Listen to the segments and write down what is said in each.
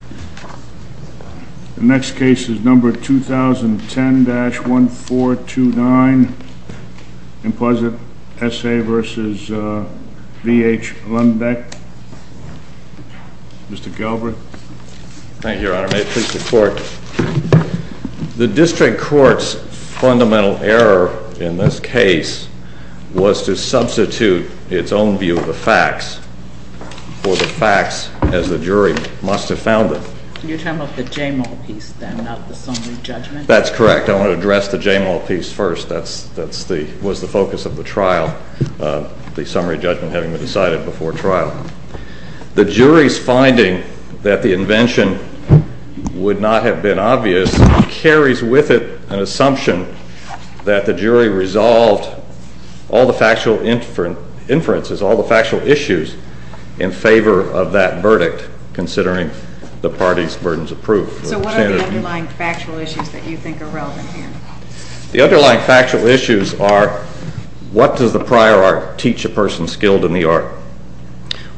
The next case is number 2010-1429 IMPOSINT SA v. H LUNDBECK. Mr. Galbraith. Thank you, your honor. May it please the court. The district court's fundamental error in this case was to substitute its own view of the facts for the facts as the jury must have found it. You're talking about the Jamal piece then, not the summary judgment? That's correct. I want to address the Jamal piece first. That was the focus of the trial, the summary judgment having been decided before trial. The jury's finding that the invention would not have been obvious carries with it an assumption that the jury resolved all the factual inferences, all the factual issues in favor of that verdict considering the parties' burdens of proof. So what are the underlying factual issues that you think are relevant here? The underlying factual issues are what does the prior art teach a person skilled in the art?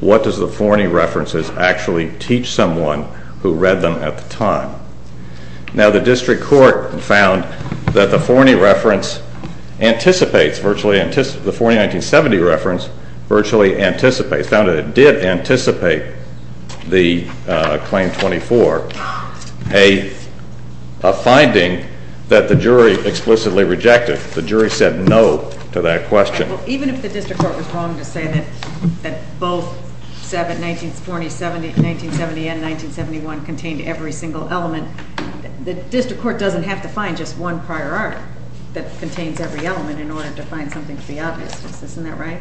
What does the Forney references actually teach someone who read them at the time? Now the district court found that the Forney reference anticipates, the Forney 1970 reference virtually anticipates, found that it did anticipate the Claim 24, a finding that the jury explicitly rejected. The jury said no to that question. Even if the district court was wrong to say that both 1970 and 1971 contained every single element, the district court doesn't have to find just one prior art that contains every element in order to find something to be obvious. Isn't that right?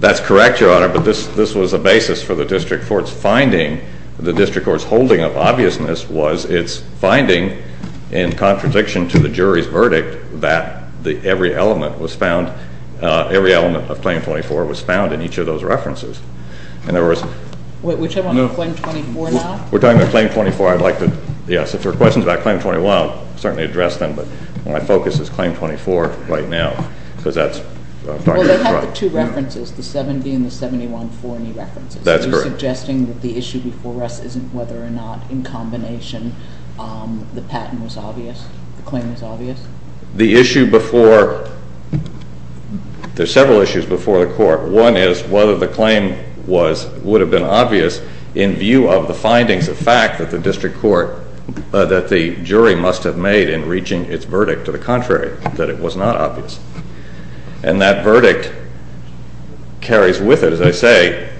That's correct, Your Honor, but this was a basis for the district court's finding. The district court's holding of obviousness was its finding in contradiction to the jury's verdict that every element was found, every element of Claim 24 was found in each of those references. Whichever one, Claim 24 now? We're talking about Claim 24. I'd like to, yes, if there are questions about Claim 24, I'll certainly address them, but my focus is Claim 24 right now. Well, they have the two references, the 1970 and the 1971 Forney references. That's correct. Are you suggesting that the issue before us isn't whether or not in combination the patent was obvious, the claim was obvious? There are several issues before the court. One is whether the claim would have been obvious in view of the findings of fact that the jury must have made in reaching its verdict to the contrary, that it was not obvious. And that verdict carries with it, as I say,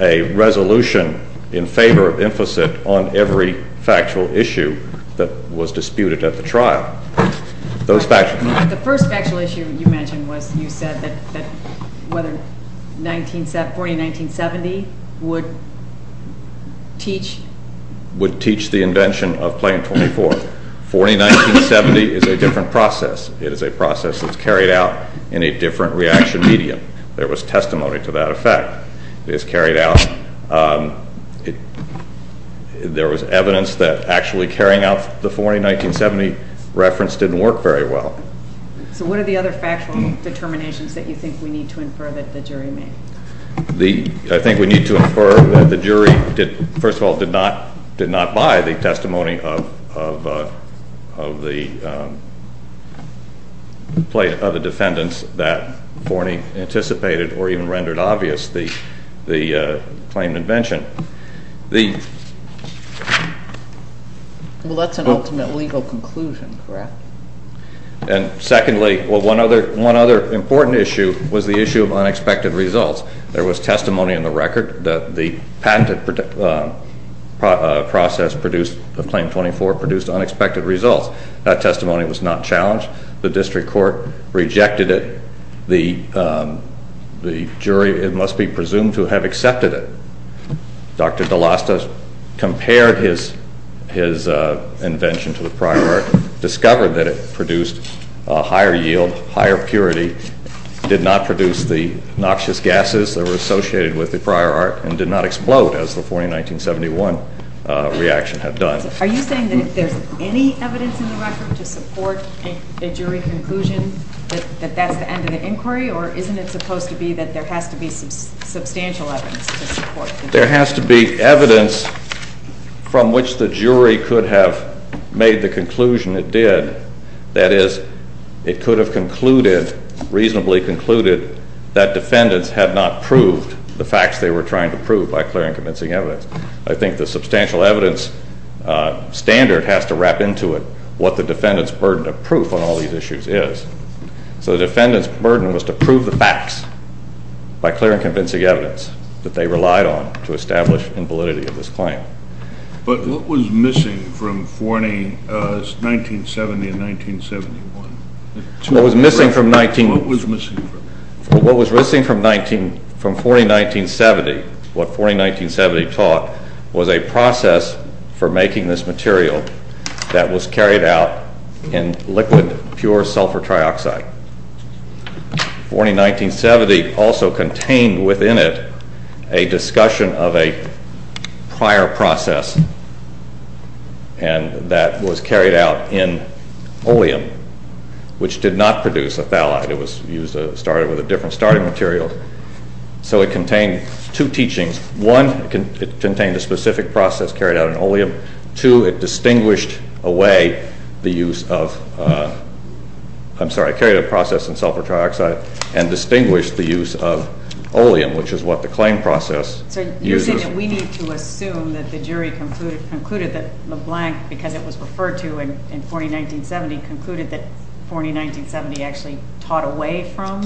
a resolution in favor of implicit on every factual issue that was disputed at the trial. The first factual issue you mentioned was you said that Forney 1970 would teach the invention of Claim 24. Forney 1970 is a different process. It is a process that's carried out in a different reaction medium. There was testimony to that effect. It was carried out, there was evidence that actually carrying out the Forney 1970 reference didn't work very well. So what are the other factual determinations that you think we need to infer that the jury made? I think we need to infer that the jury, first of all, did not buy the testimony of the defendants that Forney anticipated or even rendered obvious the claimed invention. Well, that's an ultimate legal conclusion, correct? And secondly, one other important issue was the issue of unexpected results. There was testimony in the record that the patented process of Claim 24 produced unexpected results. That testimony was not challenged. The district court rejected it. The jury, it must be presumed, to have accepted it. Dr. DeLosta compared his invention to the prior art, discovered that it produced a higher yield, higher purity, did not produce the noxious gases that were associated with the prior art, and did not explode as the Forney 1971 reaction had done. Are you saying that there's any evidence in the record to support a jury conclusion that that's the end of the inquiry, or isn't it supposed to be that there has to be substantial evidence to support the jury? There has to be evidence from which the jury could have made the conclusion it did. That is, it could have concluded, reasonably concluded, that defendants had not proved the facts they were trying to prove by clearing convincing evidence. I think the substantial evidence standard has to wrap into it what the defendant's burden of proof on all these issues is. So the defendant's burden was to prove the facts by clearing convincing evidence that they relied on to establish in validity of this claim. But what was missing from 1970 and 1971? What was missing from 1970, what Forney 1970 taught, was a process for making this material that was carried out in liquid pure sulfur trioxide. Forney 1970 also contained within it a discussion of a prior process, and that was carried out in oleum, which did not produce a phthalide. It started with a different starting material. So it contained two teachings. Two, it distinguished away the use of, I'm sorry, carried a process in sulfur trioxide and distinguished the use of oleum, which is what the claim process uses. So you're saying that we need to assume that the jury concluded that LeBlanc, because it was referred to in Forney 1970, concluded that Forney 1970 actually taught away from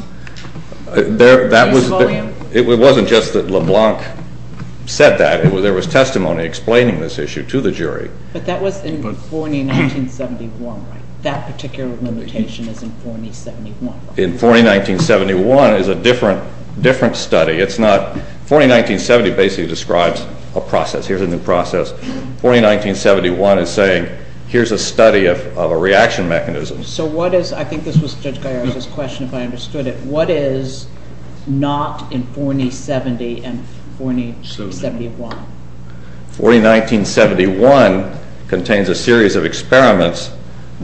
the use of oleum? It wasn't just that LeBlanc said that. There was testimony explaining this issue to the jury. But that was in Forney 1971, right? That particular limitation is in Forney 1971, right? In Forney 1971 is a different study. Forney 1970 basically describes a process. Here's a new process. Forney 1971 is saying, here's a study of a reaction mechanism. So what is, I think this was Judge Gallardo's question if I understood it, what is not in Forney 70 and Forney 71? Forney 1971 contains a series of experiments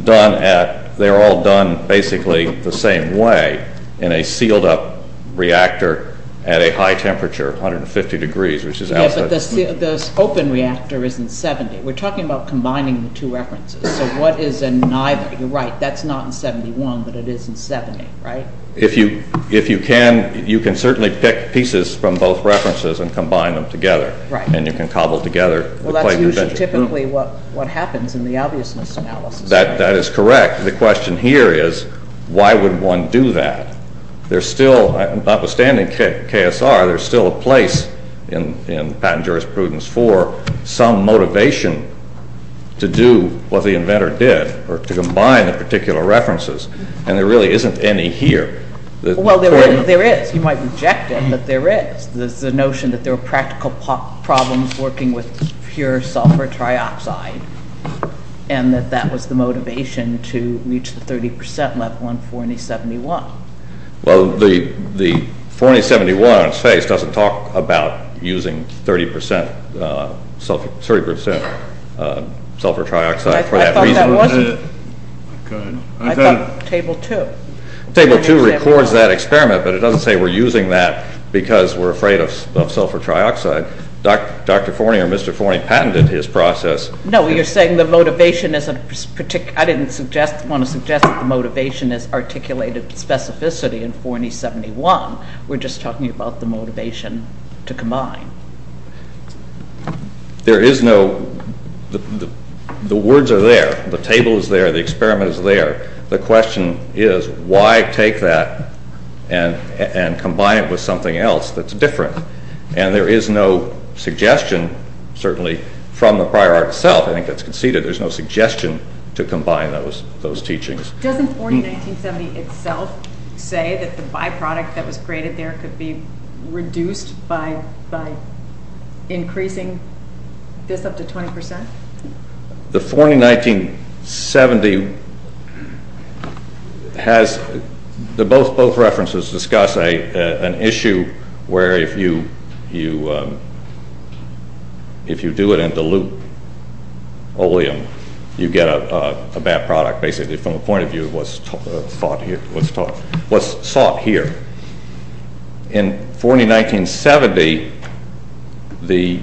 done at, they're all done basically the same way, in a sealed up reactor at a high temperature, 150 degrees, which is outside. Yeah, but the open reactor is in 70. We're talking about combining the two references. So what is in neither? You're right. That's not in 71, but it is in 70, right? If you can, you can certainly pick pieces from both references and combine them together. Right. And you can cobble together. Well, that's usually typically what happens in the obviousness analysis. That is correct. The question here is why would one do that? There's still, notwithstanding KSR, there's still a place in patent jurisprudence for some motivation to do what the inventor did or to combine the particular references, and there really isn't any here. Well, there is. You might reject it, but there is. There's the notion that there were practical problems working with pure sulfur trioxide and that that was the motivation to reach the 30% level in Forney 71. Well, the Forney 71 on its face doesn't talk about using 30% sulfur trioxide for that reason. I thought that wasn't it. Go ahead. I thought Table 2. Table 2 records that experiment, but it doesn't say we're using that because we're afraid of sulfur trioxide. Dr. Forney or Mr. Forney patented his process. No, you're saying the motivation isn't particular. I didn't want to suggest that the motivation is articulated specificity in Forney 71. We're just talking about the motivation to combine. The words are there. The table is there. The experiment is there. The question is why take that and combine it with something else that's different, and there is no suggestion, certainly, from the prior art itself. I think that's conceded. There's no suggestion to combine those teachings. Doesn't Forney 1970 itself say that the byproduct that was created there could be reduced by increasing this up to 20%? The Forney 1970 has both references discuss an issue where if you do it in dilute oleum, you get a bad product, basically from the point of view of what's sought here. In Forney 1970, the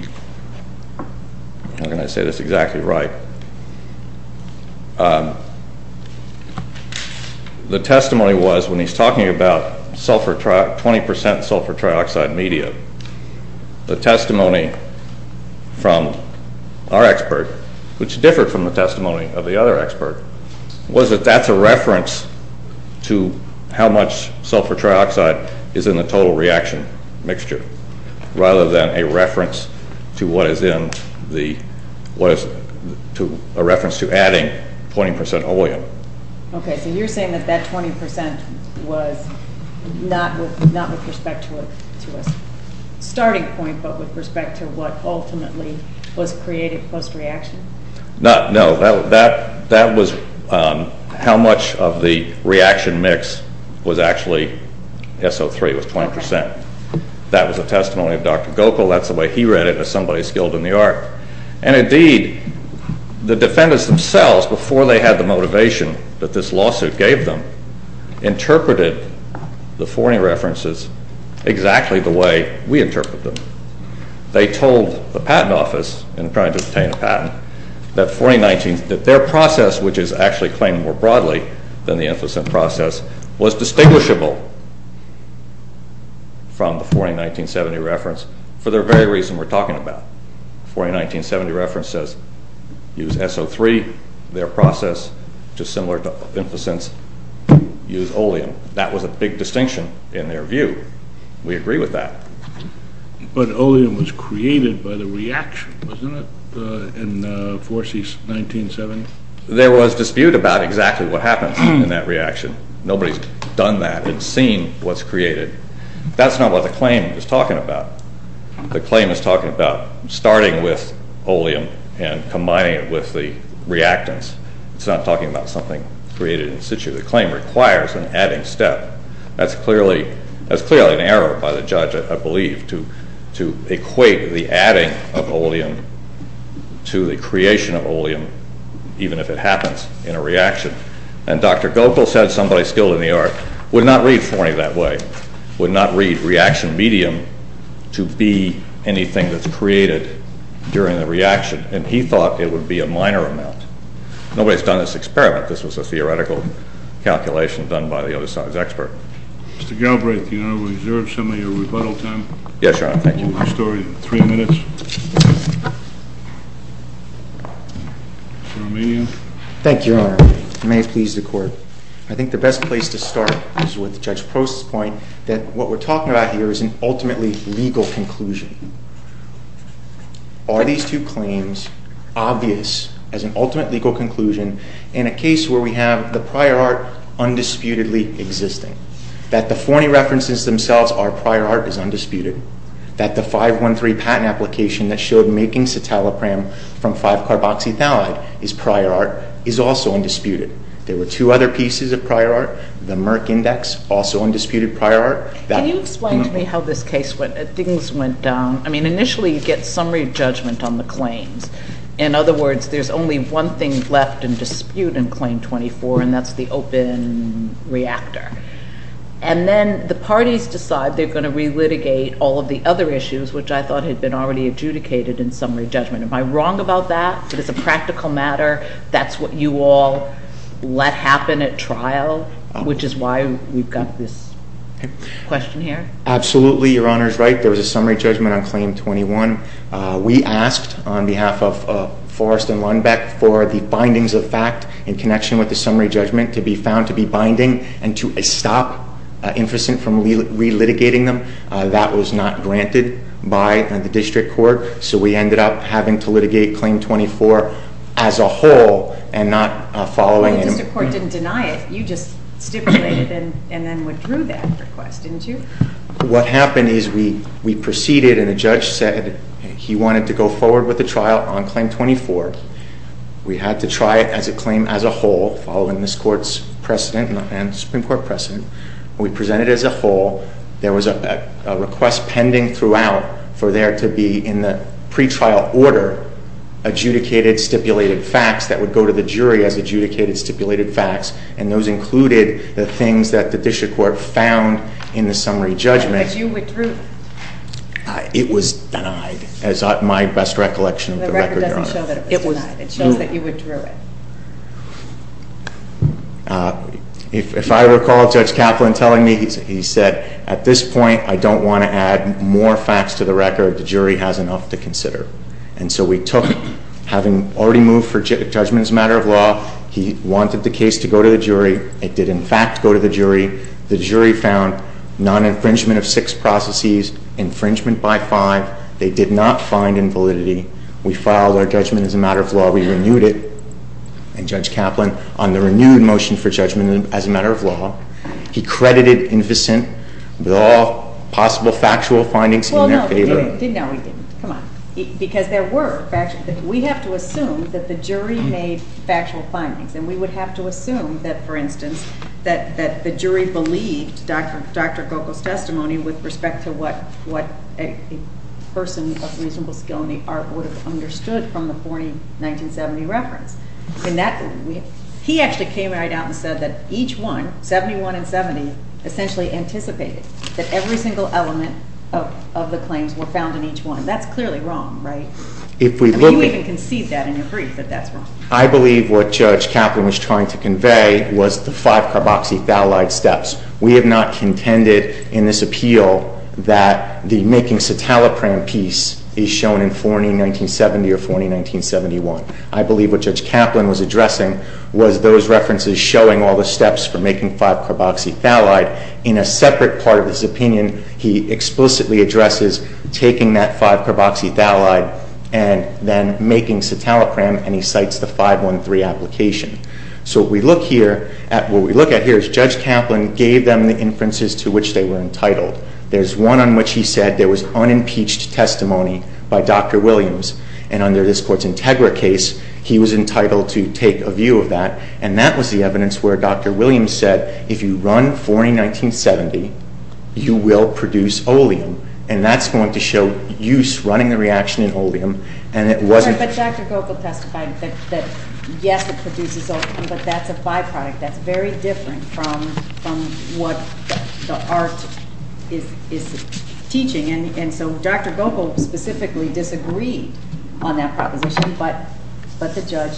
testimony was, when he's talking about 20% sulfur trioxide media, the testimony from our expert, which differed from the testimony of the other expert, was that that's a reference to how much sulfur trioxide is in the total reaction mixture rather than a reference to adding 20% oleum. Okay, so you're saying that that 20% was not with respect to a starting point but with respect to what ultimately was created post-reaction? No, that was how much of the reaction mix was actually SO3, was 20%. That was the testimony of Dr. Gokul. That's the way he read it as somebody skilled in the art. And indeed, the defendants themselves, before they had the motivation that this lawsuit gave them, interpreted the Forney references exactly the way we interpreted them. They told the Patent Office, in trying to obtain a patent, that their process, which is actually claimed more broadly than the Inficent Process, was distinguishable from the Forney 1970 reference for the very reason we're talking about. The Forney 1970 reference says, use SO3, their process, which is similar to Inficent's, use oleum. That was a big distinction in their view. We agree with that. But oleum was created by the reaction, wasn't it, in Forsey's 1970? There was dispute about exactly what happened in that reaction. Nobody's done that. It's seen what's created. That's not what the claim is talking about. The claim is talking about starting with oleum and combining it with the reactants. It's not talking about something created in situ. The claim requires an adding step. That's clearly an error by the judge, I believe, to equate the adding of oleum to the creation of oleum, even if it happens in a reaction. And Dr. Gokul said somebody skilled in the art would not read Forney that way, would not read reaction medium to be anything that's created during the reaction. And he thought it would be a minor amount. Nobody's done this experiment. This was a theoretical calculation done by the other side's expert. Mr. Galbraith, do you want to reserve some of your rebuttal time? Yes, Your Honor. Thank you. You have three minutes. Mr. Arminian. Thank you, Your Honor. May it please the Court. I think the best place to start is with Judge Prost's point that what we're talking about here is an ultimately legal conclusion. Are these two claims obvious as an ultimate legal conclusion in a case where we have the prior art undisputedly existing? That the Forney references themselves are prior art is undisputed. That the 513 patent application that showed making citalopram from 5-carboxythalide is prior art is also undisputed. There were two other pieces of prior art. The Merck Index, also undisputed prior art. Can you explain to me how this case went? Things went down. I mean, initially you get summary judgment on the claims. In other words, there's only one thing left in dispute in Claim 24, and that's the open reactor. And then the parties decide they're going to relitigate all of the other issues, which I thought had been already adjudicated in summary judgment. Am I wrong about that? Is it a practical matter? That's what you all let happen at trial, which is why we've got this question here? Absolutely. Your Honor is right. There was a summary judgment on Claim 21. We asked on behalf of Forrest and Lundbeck for the findings of fact in connection with the summary judgment to be found to be binding and to stop Inficent from relitigating them. That was not granted by the district court. So we ended up having to litigate Claim 24 as a whole and not following- But the district court didn't deny it. You just stipulated and then withdrew that request, didn't you? What happened is we proceeded and a judge said he wanted to go forward with the trial on Claim 24. We had to try it as a claim as a whole, following this court's precedent and Supreme Court precedent. We presented as a whole. There was a request pending throughout for there to be in the pretrial order adjudicated, stipulated facts that would go to the jury as adjudicated, stipulated facts, and those included the things that the district court found in the summary judgment. But you withdrew it. It was denied is my best recollection of the record, Your Honor. The record doesn't show that it was denied. It was denied. It shows that you withdrew it. If I recall, Judge Kaplan telling me, he said, at this point I don't want to add more facts to the record. The jury has enough to consider. And so we took, having already moved for judgment as a matter of law, he wanted the case to go to the jury. It did, in fact, go to the jury. The jury found non-infringement of six processes, infringement by five. They did not find invalidity. We filed our judgment as a matter of law. We renewed it. And Judge Kaplan, on the renewed motion for judgment as a matter of law, he credited Inficent with all possible factual findings in their favor. Well, no, he didn't. No, he didn't. Come on. Because there were factual. We have to assume that the jury made factual findings. And we would have to assume that, for instance, that the jury believed Dr. Gokul's testimony with respect to what a person of reasonable skill in the art would have understood from the 1940-1970 reference. He actually came right out and said that each one, 71 and 70, essentially anticipated that every single element of the claims were found in each one. That's clearly wrong, right? I mean, you even concede that in your brief, that that's wrong. I believe what Judge Kaplan was trying to convey was the five carboxythalide steps. We have not contended in this appeal that the making citalopram piece is shown in 40-1970 or 40-1971. I believe what Judge Kaplan was addressing was those references showing all the steps for making five carboxythalide. In a separate part of his opinion, he explicitly addresses taking that five carboxythalide and then making citalopram, and he cites the 513 application. So what we look at here is Judge Kaplan gave them the inferences to which they were entitled. There's one on which he said there was unimpeached testimony by Dr. Williams, and under this Court's Integra case, he was entitled to take a view of that, and that was the evidence where Dr. Williams said, if you run 40-1970, you will produce oleum, and that's going to show use running the reaction in oleum. But Dr. Gokul testified that yes, it produces oleum, but that's a byproduct. That's very different from what the art is teaching, and so Dr. Gokul specifically disagreed on that proposition, but the judge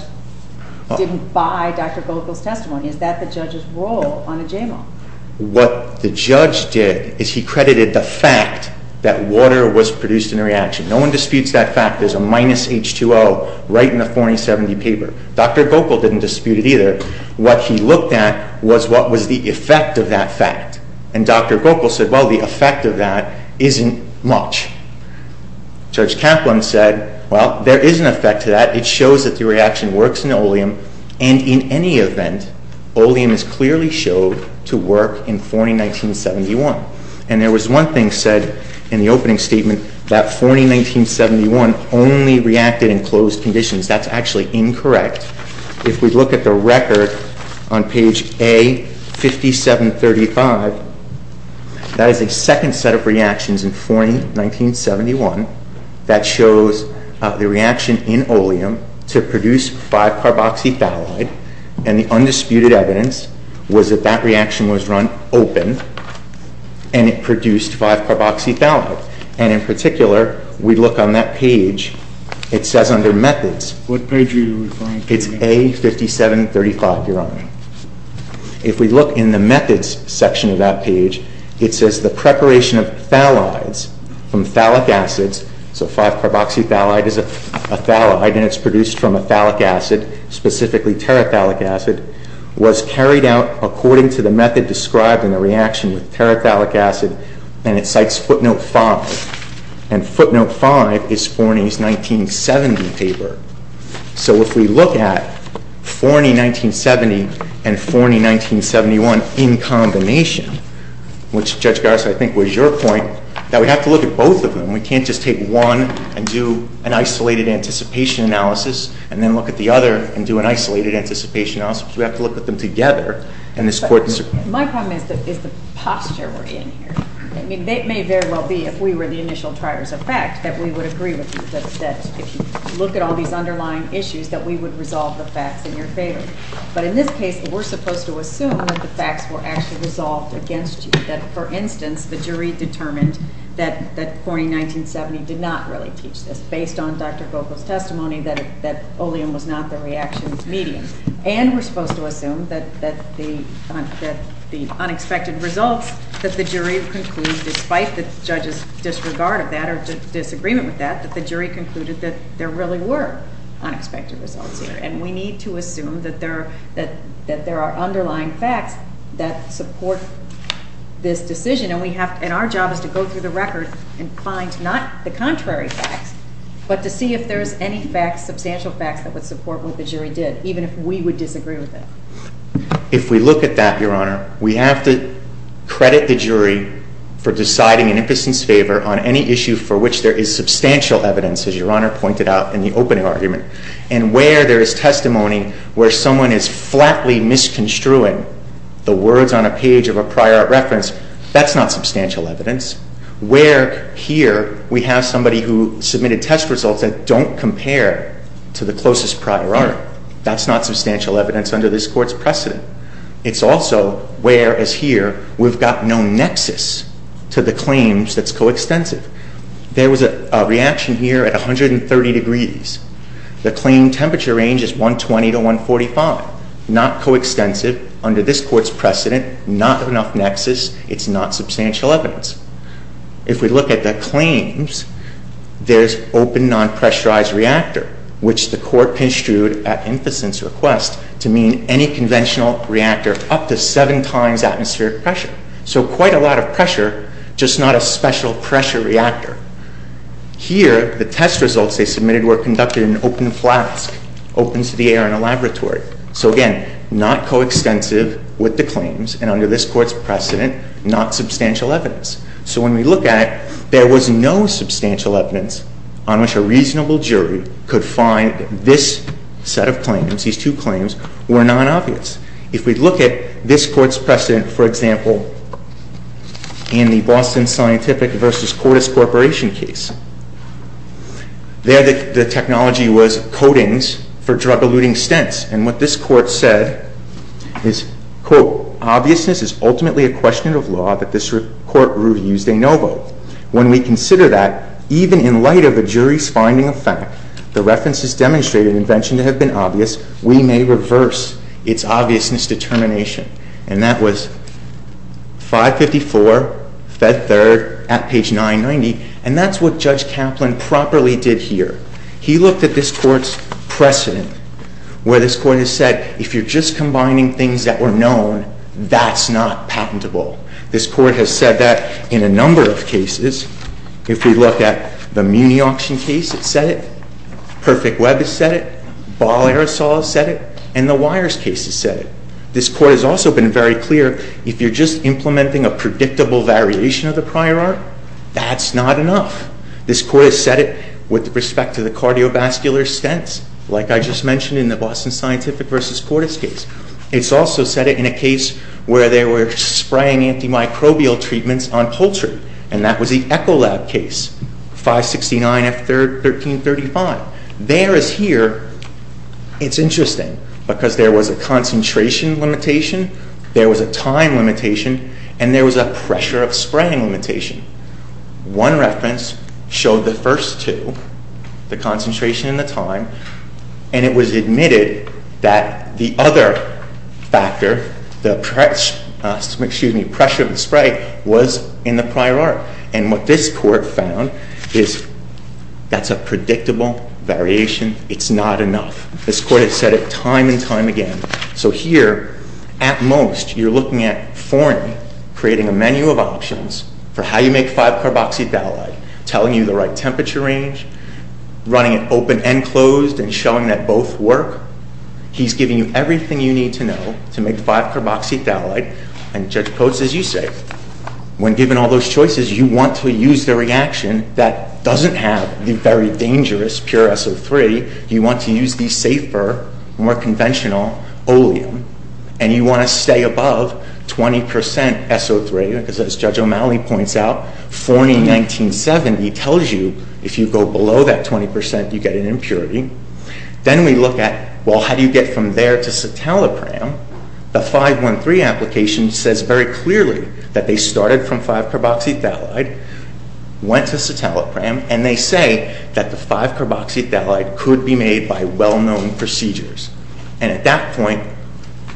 didn't buy Dr. Gokul's testimony. Is that the judge's role on a JMO? What the judge did is he credited the fact that water was produced in the reaction. No one disputes that fact. There's a minus H2O right in the 4070 paper. Dr. Gokul didn't dispute it either. What he looked at was what was the effect of that fact, and Dr. Gokul said, well, the effect of that isn't much. Judge Kaplan said, well, there is an effect to that. It shows that the reaction works in oleum, and in any event, oleum is clearly showed to work in 40-1971, and there was one thing said in the opening statement that 40-1971 only reacted in closed conditions. That's actually incorrect. If we look at the record on page A5735, that is a second set of reactions in 40-1971 that shows the reaction in oleum to produce 5-carboxyphallide, and the undisputed evidence was that that reaction was run open, and it produced 5-carboxyphallide, and in particular, we look on that page, it says under methods. What page are you referring to? It's A5735, Your Honor. If we look in the methods section of that page, it says the preparation of phthalides from phthalic acids, so 5-carboxyphallide is a phthalide, and it's produced from a phthalic acid, specifically terephthalic acid, was carried out according to the method described in the reaction with terephthalic acid, and it cites footnote 5, and footnote 5 is Forney's 1970 paper. So if we look at Forney 1970 and Forney 1971 in combination, which, Judge Garza, I think was your point, that we have to look at both of them. We can't just take one and do an isolated anticipation analysis and then look at the other and do an isolated anticipation analysis. We have to look at them together. My problem is the posture we're in here. It may very well be, if we were the initial triers of fact, that we would agree with you that if you look at all these underlying issues, that we would resolve the facts in your favor. But in this case, we're supposed to assume that the facts were actually resolved against you, that, for instance, the jury determined that Forney 1970 did not really teach this, based on Dr. Vogel's testimony that oleum was not the reaction's medium. And we're supposed to assume that the unexpected results that the jury concluded, despite the judge's disregard of that or disagreement with that, that the jury concluded that there really were unexpected results here. And we need to assume that there are underlying facts that support this decision. And our job is to go through the record and find not the contrary facts, but to see if there's any facts, substantial facts, that would support what the jury did, even if we would disagree with it. If we look at that, Your Honor, we have to credit the jury for deciding in impotence's favor on any issue for which there is substantial evidence, as Your Honor pointed out in the opening argument, and where there is testimony where someone is flatly misconstruing the words on a page of a prior art reference, that's not substantial evidence. Where here we have somebody who submitted test results that don't compare to the closest prior art, that's not substantial evidence under this Court's precedent. It's also where, as here, we've got no nexus to the claims that's coextensive. There was a reaction here at 130 degrees. The claim temperature range is 120 to 145. Not coextensive. Under this Court's precedent, not enough nexus. It's not substantial evidence. If we look at the claims, there's open non-pressurized reactor, which the Court construed at inference request to mean any conventional reactor up to 7 times atmospheric pressure. So quite a lot of pressure, just not a special pressure reactor. Here, the test results they submitted were conducted in an open flask, open to the air in a laboratory. So again, not coextensive with the claims, and under this Court's precedent, not substantial evidence. So when we look at it, there was no substantial evidence on which a reasonable jury could find this set of claims, these two claims, were non-obvious. If we look at this Court's precedent, for example, in the Boston Scientific v. Cordis Corporation case, there the technology was coatings for drug-eluting stents. And what this Court said is, quote, Obviousness is ultimately a question of law that this Court reviews de novo. When we consider that, even in light of a jury's finding of fact, the references demonstrate an invention to have been obvious, we may reverse its obviousness determination. And that was 554, Fed Third, at page 990. And that's what Judge Kaplan properly did here. He looked at this Court's precedent, where this Court has said, If you're just combining things that were known, that's not patentable. This Court has said that in a number of cases. If we look at the Muni Auction case, it said it. Perfect Web has said it. Ball Aerosol has said it. And the Wires case has said it. This Court has also been very clear, If you're just implementing a predictable variation of the prior art, that's not enough. This Court has said it with respect to the cardiovascular stents, like I just mentioned in the Boston Scientific v. Cordis case. It's also said it in a case where they were spraying antimicrobial treatments on poultry. And that was the Ecolab case, 569 F Third, 1335. There is here, it's interesting, because there was a concentration limitation, there was a time limitation, and there was a pressure of spraying limitation. One reference showed the first two, the concentration and the time, and it was admitted that the other factor, the pressure of the spray, was in the prior art. And what this Court found is that's a predictable variation. It's not enough. This Court has said it time and time again. So here, at most, you're looking at forming, creating a menu of options for how you make 5-carboxy-phthalate, telling you the right temperature range, running it open and closed, and showing that both work. He's giving you everything you need to know to make 5-carboxy-phthalate. And Judge Coates, as you say, when given all those choices, you want to use the reaction that doesn't have the very dangerous pure SO3. You want to use the safer, more conventional oleum. And you want to stay above 20 percent SO3, because as Judge O'Malley points out, Forney in 1970 tells you if you go below that 20 percent, you get an impurity. Then we look at, well, how do you get from there to citalopram? The 5-1-3 application says very clearly that they started from 5-carboxy-phthalate, went to citalopram, and they say that the 5-carboxy-phthalate could be made by well-known procedures. And at that point,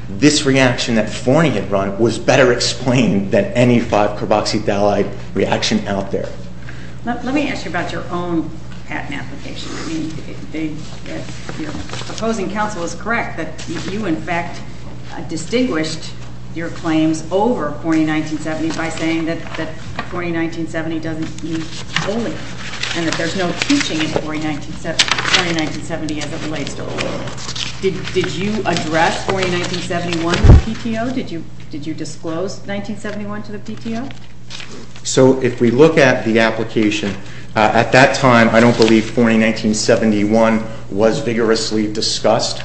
this reaction that Forney had run was better explained than any 5-carboxy-phthalate reaction out there. Let me ask you about your own patent application. Your opposing counsel is correct that you, in fact, distinguished your claims over Forney in 1970 by saying that Forney in 1970 doesn't use oleum, and that there's no teaching in Forney in 1970 as it relates to oleum. Did you address Forney in 1971 to the PTO? Did you disclose 1971 to the PTO? So if we look at the application, at that time, I don't believe Forney in 1971 was vigorously discussed.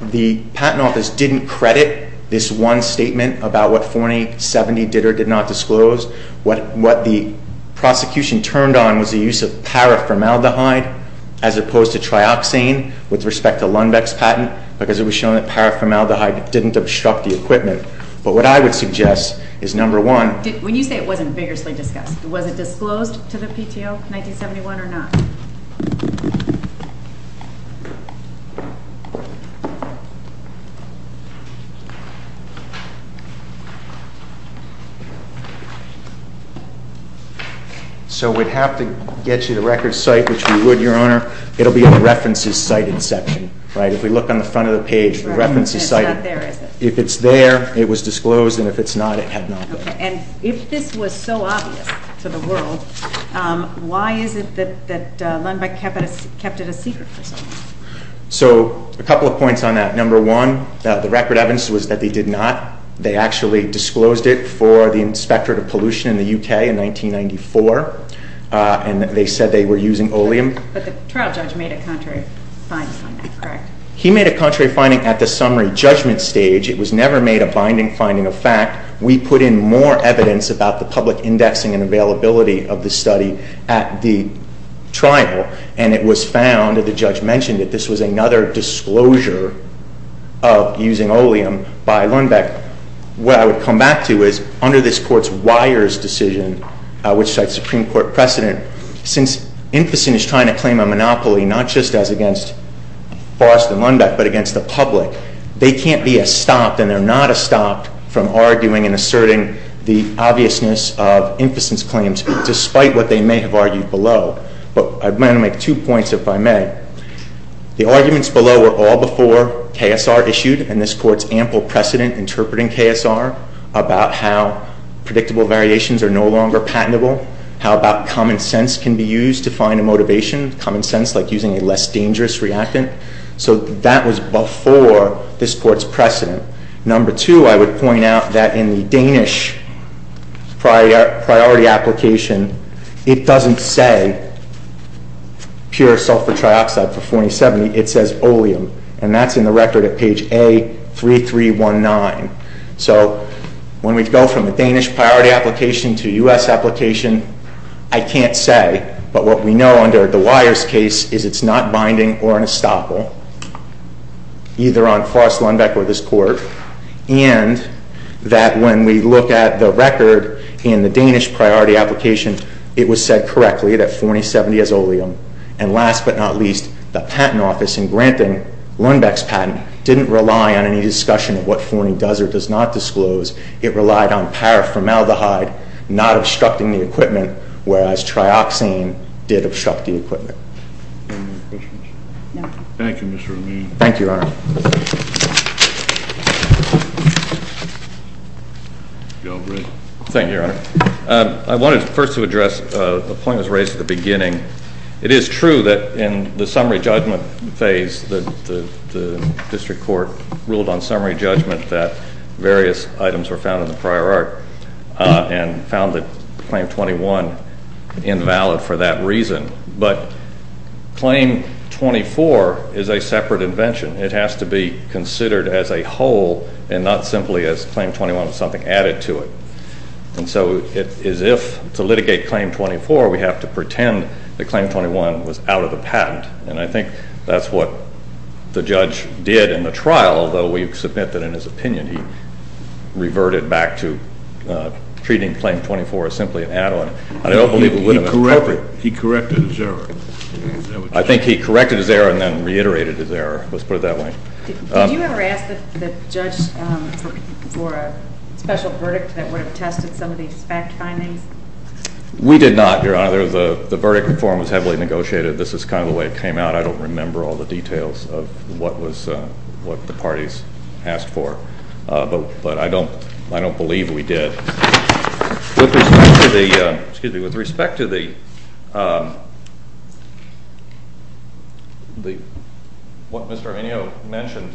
The Patent Office didn't credit this one statement about what Forney in 1970 did or did not disclose. What the prosecution turned on was the use of paraformaldehyde as opposed to trioxane with respect to Lundbeck's patent because it was shown that paraformaldehyde didn't obstruct the equipment. But what I would suggest is, number one— When you say it wasn't vigorously discussed, was it disclosed to the PTO in 1971 or not? So we'd have to get you the record site, which we would, Your Honor. It'll be on the references cited section, right? If we look on the front of the page, the references cited. It's not there, is it? If it's there, it was disclosed, and if it's not, it had not been. Okay. And if this was so obvious to the world, why is it that the PTO, kept it a secret for so long? So a couple of points on that. Number one, the record evidence was that they did not. They actually disclosed it for the Inspectorate of Pollution in the U.K. in 1994, and they said they were using oleum. But the trial judge made a contrary finding on that, correct? He made a contrary finding at the summary judgment stage. It was never made a binding finding of fact. We put in more evidence about the public indexing and availability of the study at the trial, and it was found, and the judge mentioned it, this was another disclosure of using oleum by Lundbeck. What I would come back to is, under this Court's Weyers decision, which cites Supreme Court precedent, since Inficent is trying to claim a monopoly not just as against Forrest and Lundbeck, but against the public, they can't be stopped, and they're not stopped, from arguing and asserting the obviousness of Inficent's claims, despite what they may have argued below. But I plan to make two points, if I may. The arguments below were all before KSR issued, and this Court's ample precedent interpreting KSR, about how predictable variations are no longer patentable, how about common sense can be used to find a motivation, common sense like using a less dangerous reactant. So that was before this Court's precedent. Number two, I would point out that in the Danish priority application, it doesn't say pure sulfur trioxide for 4070, it says oleum, and that's in the record at page A3319. So when we go from the Danish priority application to U.S. application, I can't say, but what we know under Dwyer's case is it's not binding or an estoppel, either on Forrest Lundbeck or this Court, and that when we look at the record in the Danish priority application, it was said correctly that 4070 has oleum, and last but not least, the patent office in granting Lundbeck's patent didn't rely on any discussion of what 40 does or does not disclose, it relied on paraformaldehyde not obstructing the equipment, whereas trioxane did obstruct the equipment. Any more questions? No. Thank you, Mr. O'Meara. Thank you, Your Honor. Thank you, Your Honor. It is true that in the summary judgment phase, the district court ruled on summary judgment that various items were found in the prior art and found that Claim 21 invalid for that reason, but Claim 24 is a separate invention. It has to be considered as a whole and not simply as Claim 21 with something added to it, and so as if to litigate Claim 24, we have to pretend that Claim 21 was out of the patent, and I think that's what the judge did in the trial, although we submit that in his opinion he reverted back to treating Claim 24 as simply an add-on. I don't believe it would have been appropriate. He corrected his error. I think he corrected his error and then reiterated his error. Let's put it that way. Did you ever ask the judge for a special verdict that would have tested some of these fact findings? We did not, Your Honor. The verdict form was heavily negotiated. This is kind of the way it came out. I don't remember all the details of what the parties asked for, but I don't believe we did. With respect to the – what Mr. Arminio mentioned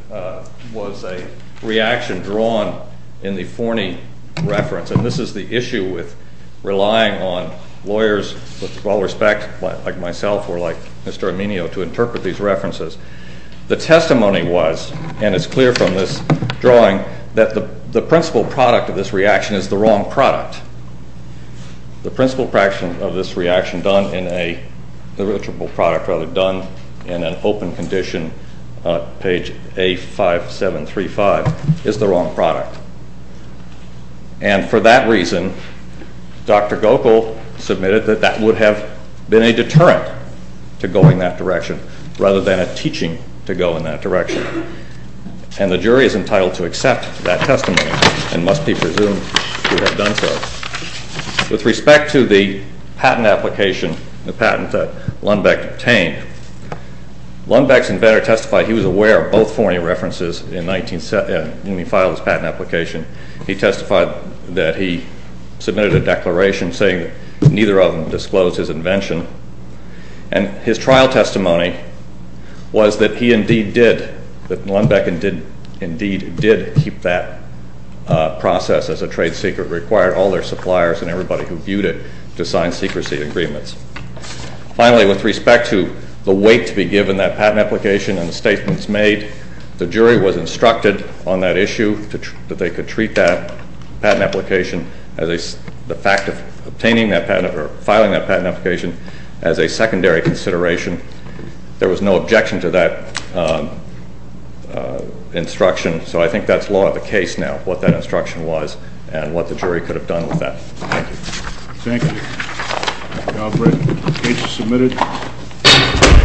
was a reaction drawn in the Forney reference, and this is the issue with relying on lawyers with all respect, like myself or like Mr. Arminio, to interpret these references. The testimony was, and it's clear from this drawing, that the principal product of this reaction is the wrong product. The principal product of this reaction done in an open condition, page A5735, is the wrong product. And for that reason, Dr. Gokul submitted that that would have been a deterrent to going that direction rather than a teaching to go in that direction. And the jury is entitled to accept that testimony and must be presumed to have done so. With respect to the patent application, the patent that Lundbeck obtained, Lundbeck's inventor testified he was aware of both Forney references when he filed his patent application. He testified that he submitted a declaration saying neither of them disclosed his invention. And his trial testimony was that he indeed did, that Lundbeck indeed did keep that process as a trade secret, required all their suppliers and everybody who viewed it to sign secrecy agreements. Finally, with respect to the weight to be given that patent application and the statements made, the jury was instructed on that issue that they could treat that patent application, the fact of obtaining that patent or filing that patent application, as a secondary consideration. There was no objection to that instruction. So I think that's law of the case now, what that instruction was and what the jury could have done with that. Thank you. The case is submitted.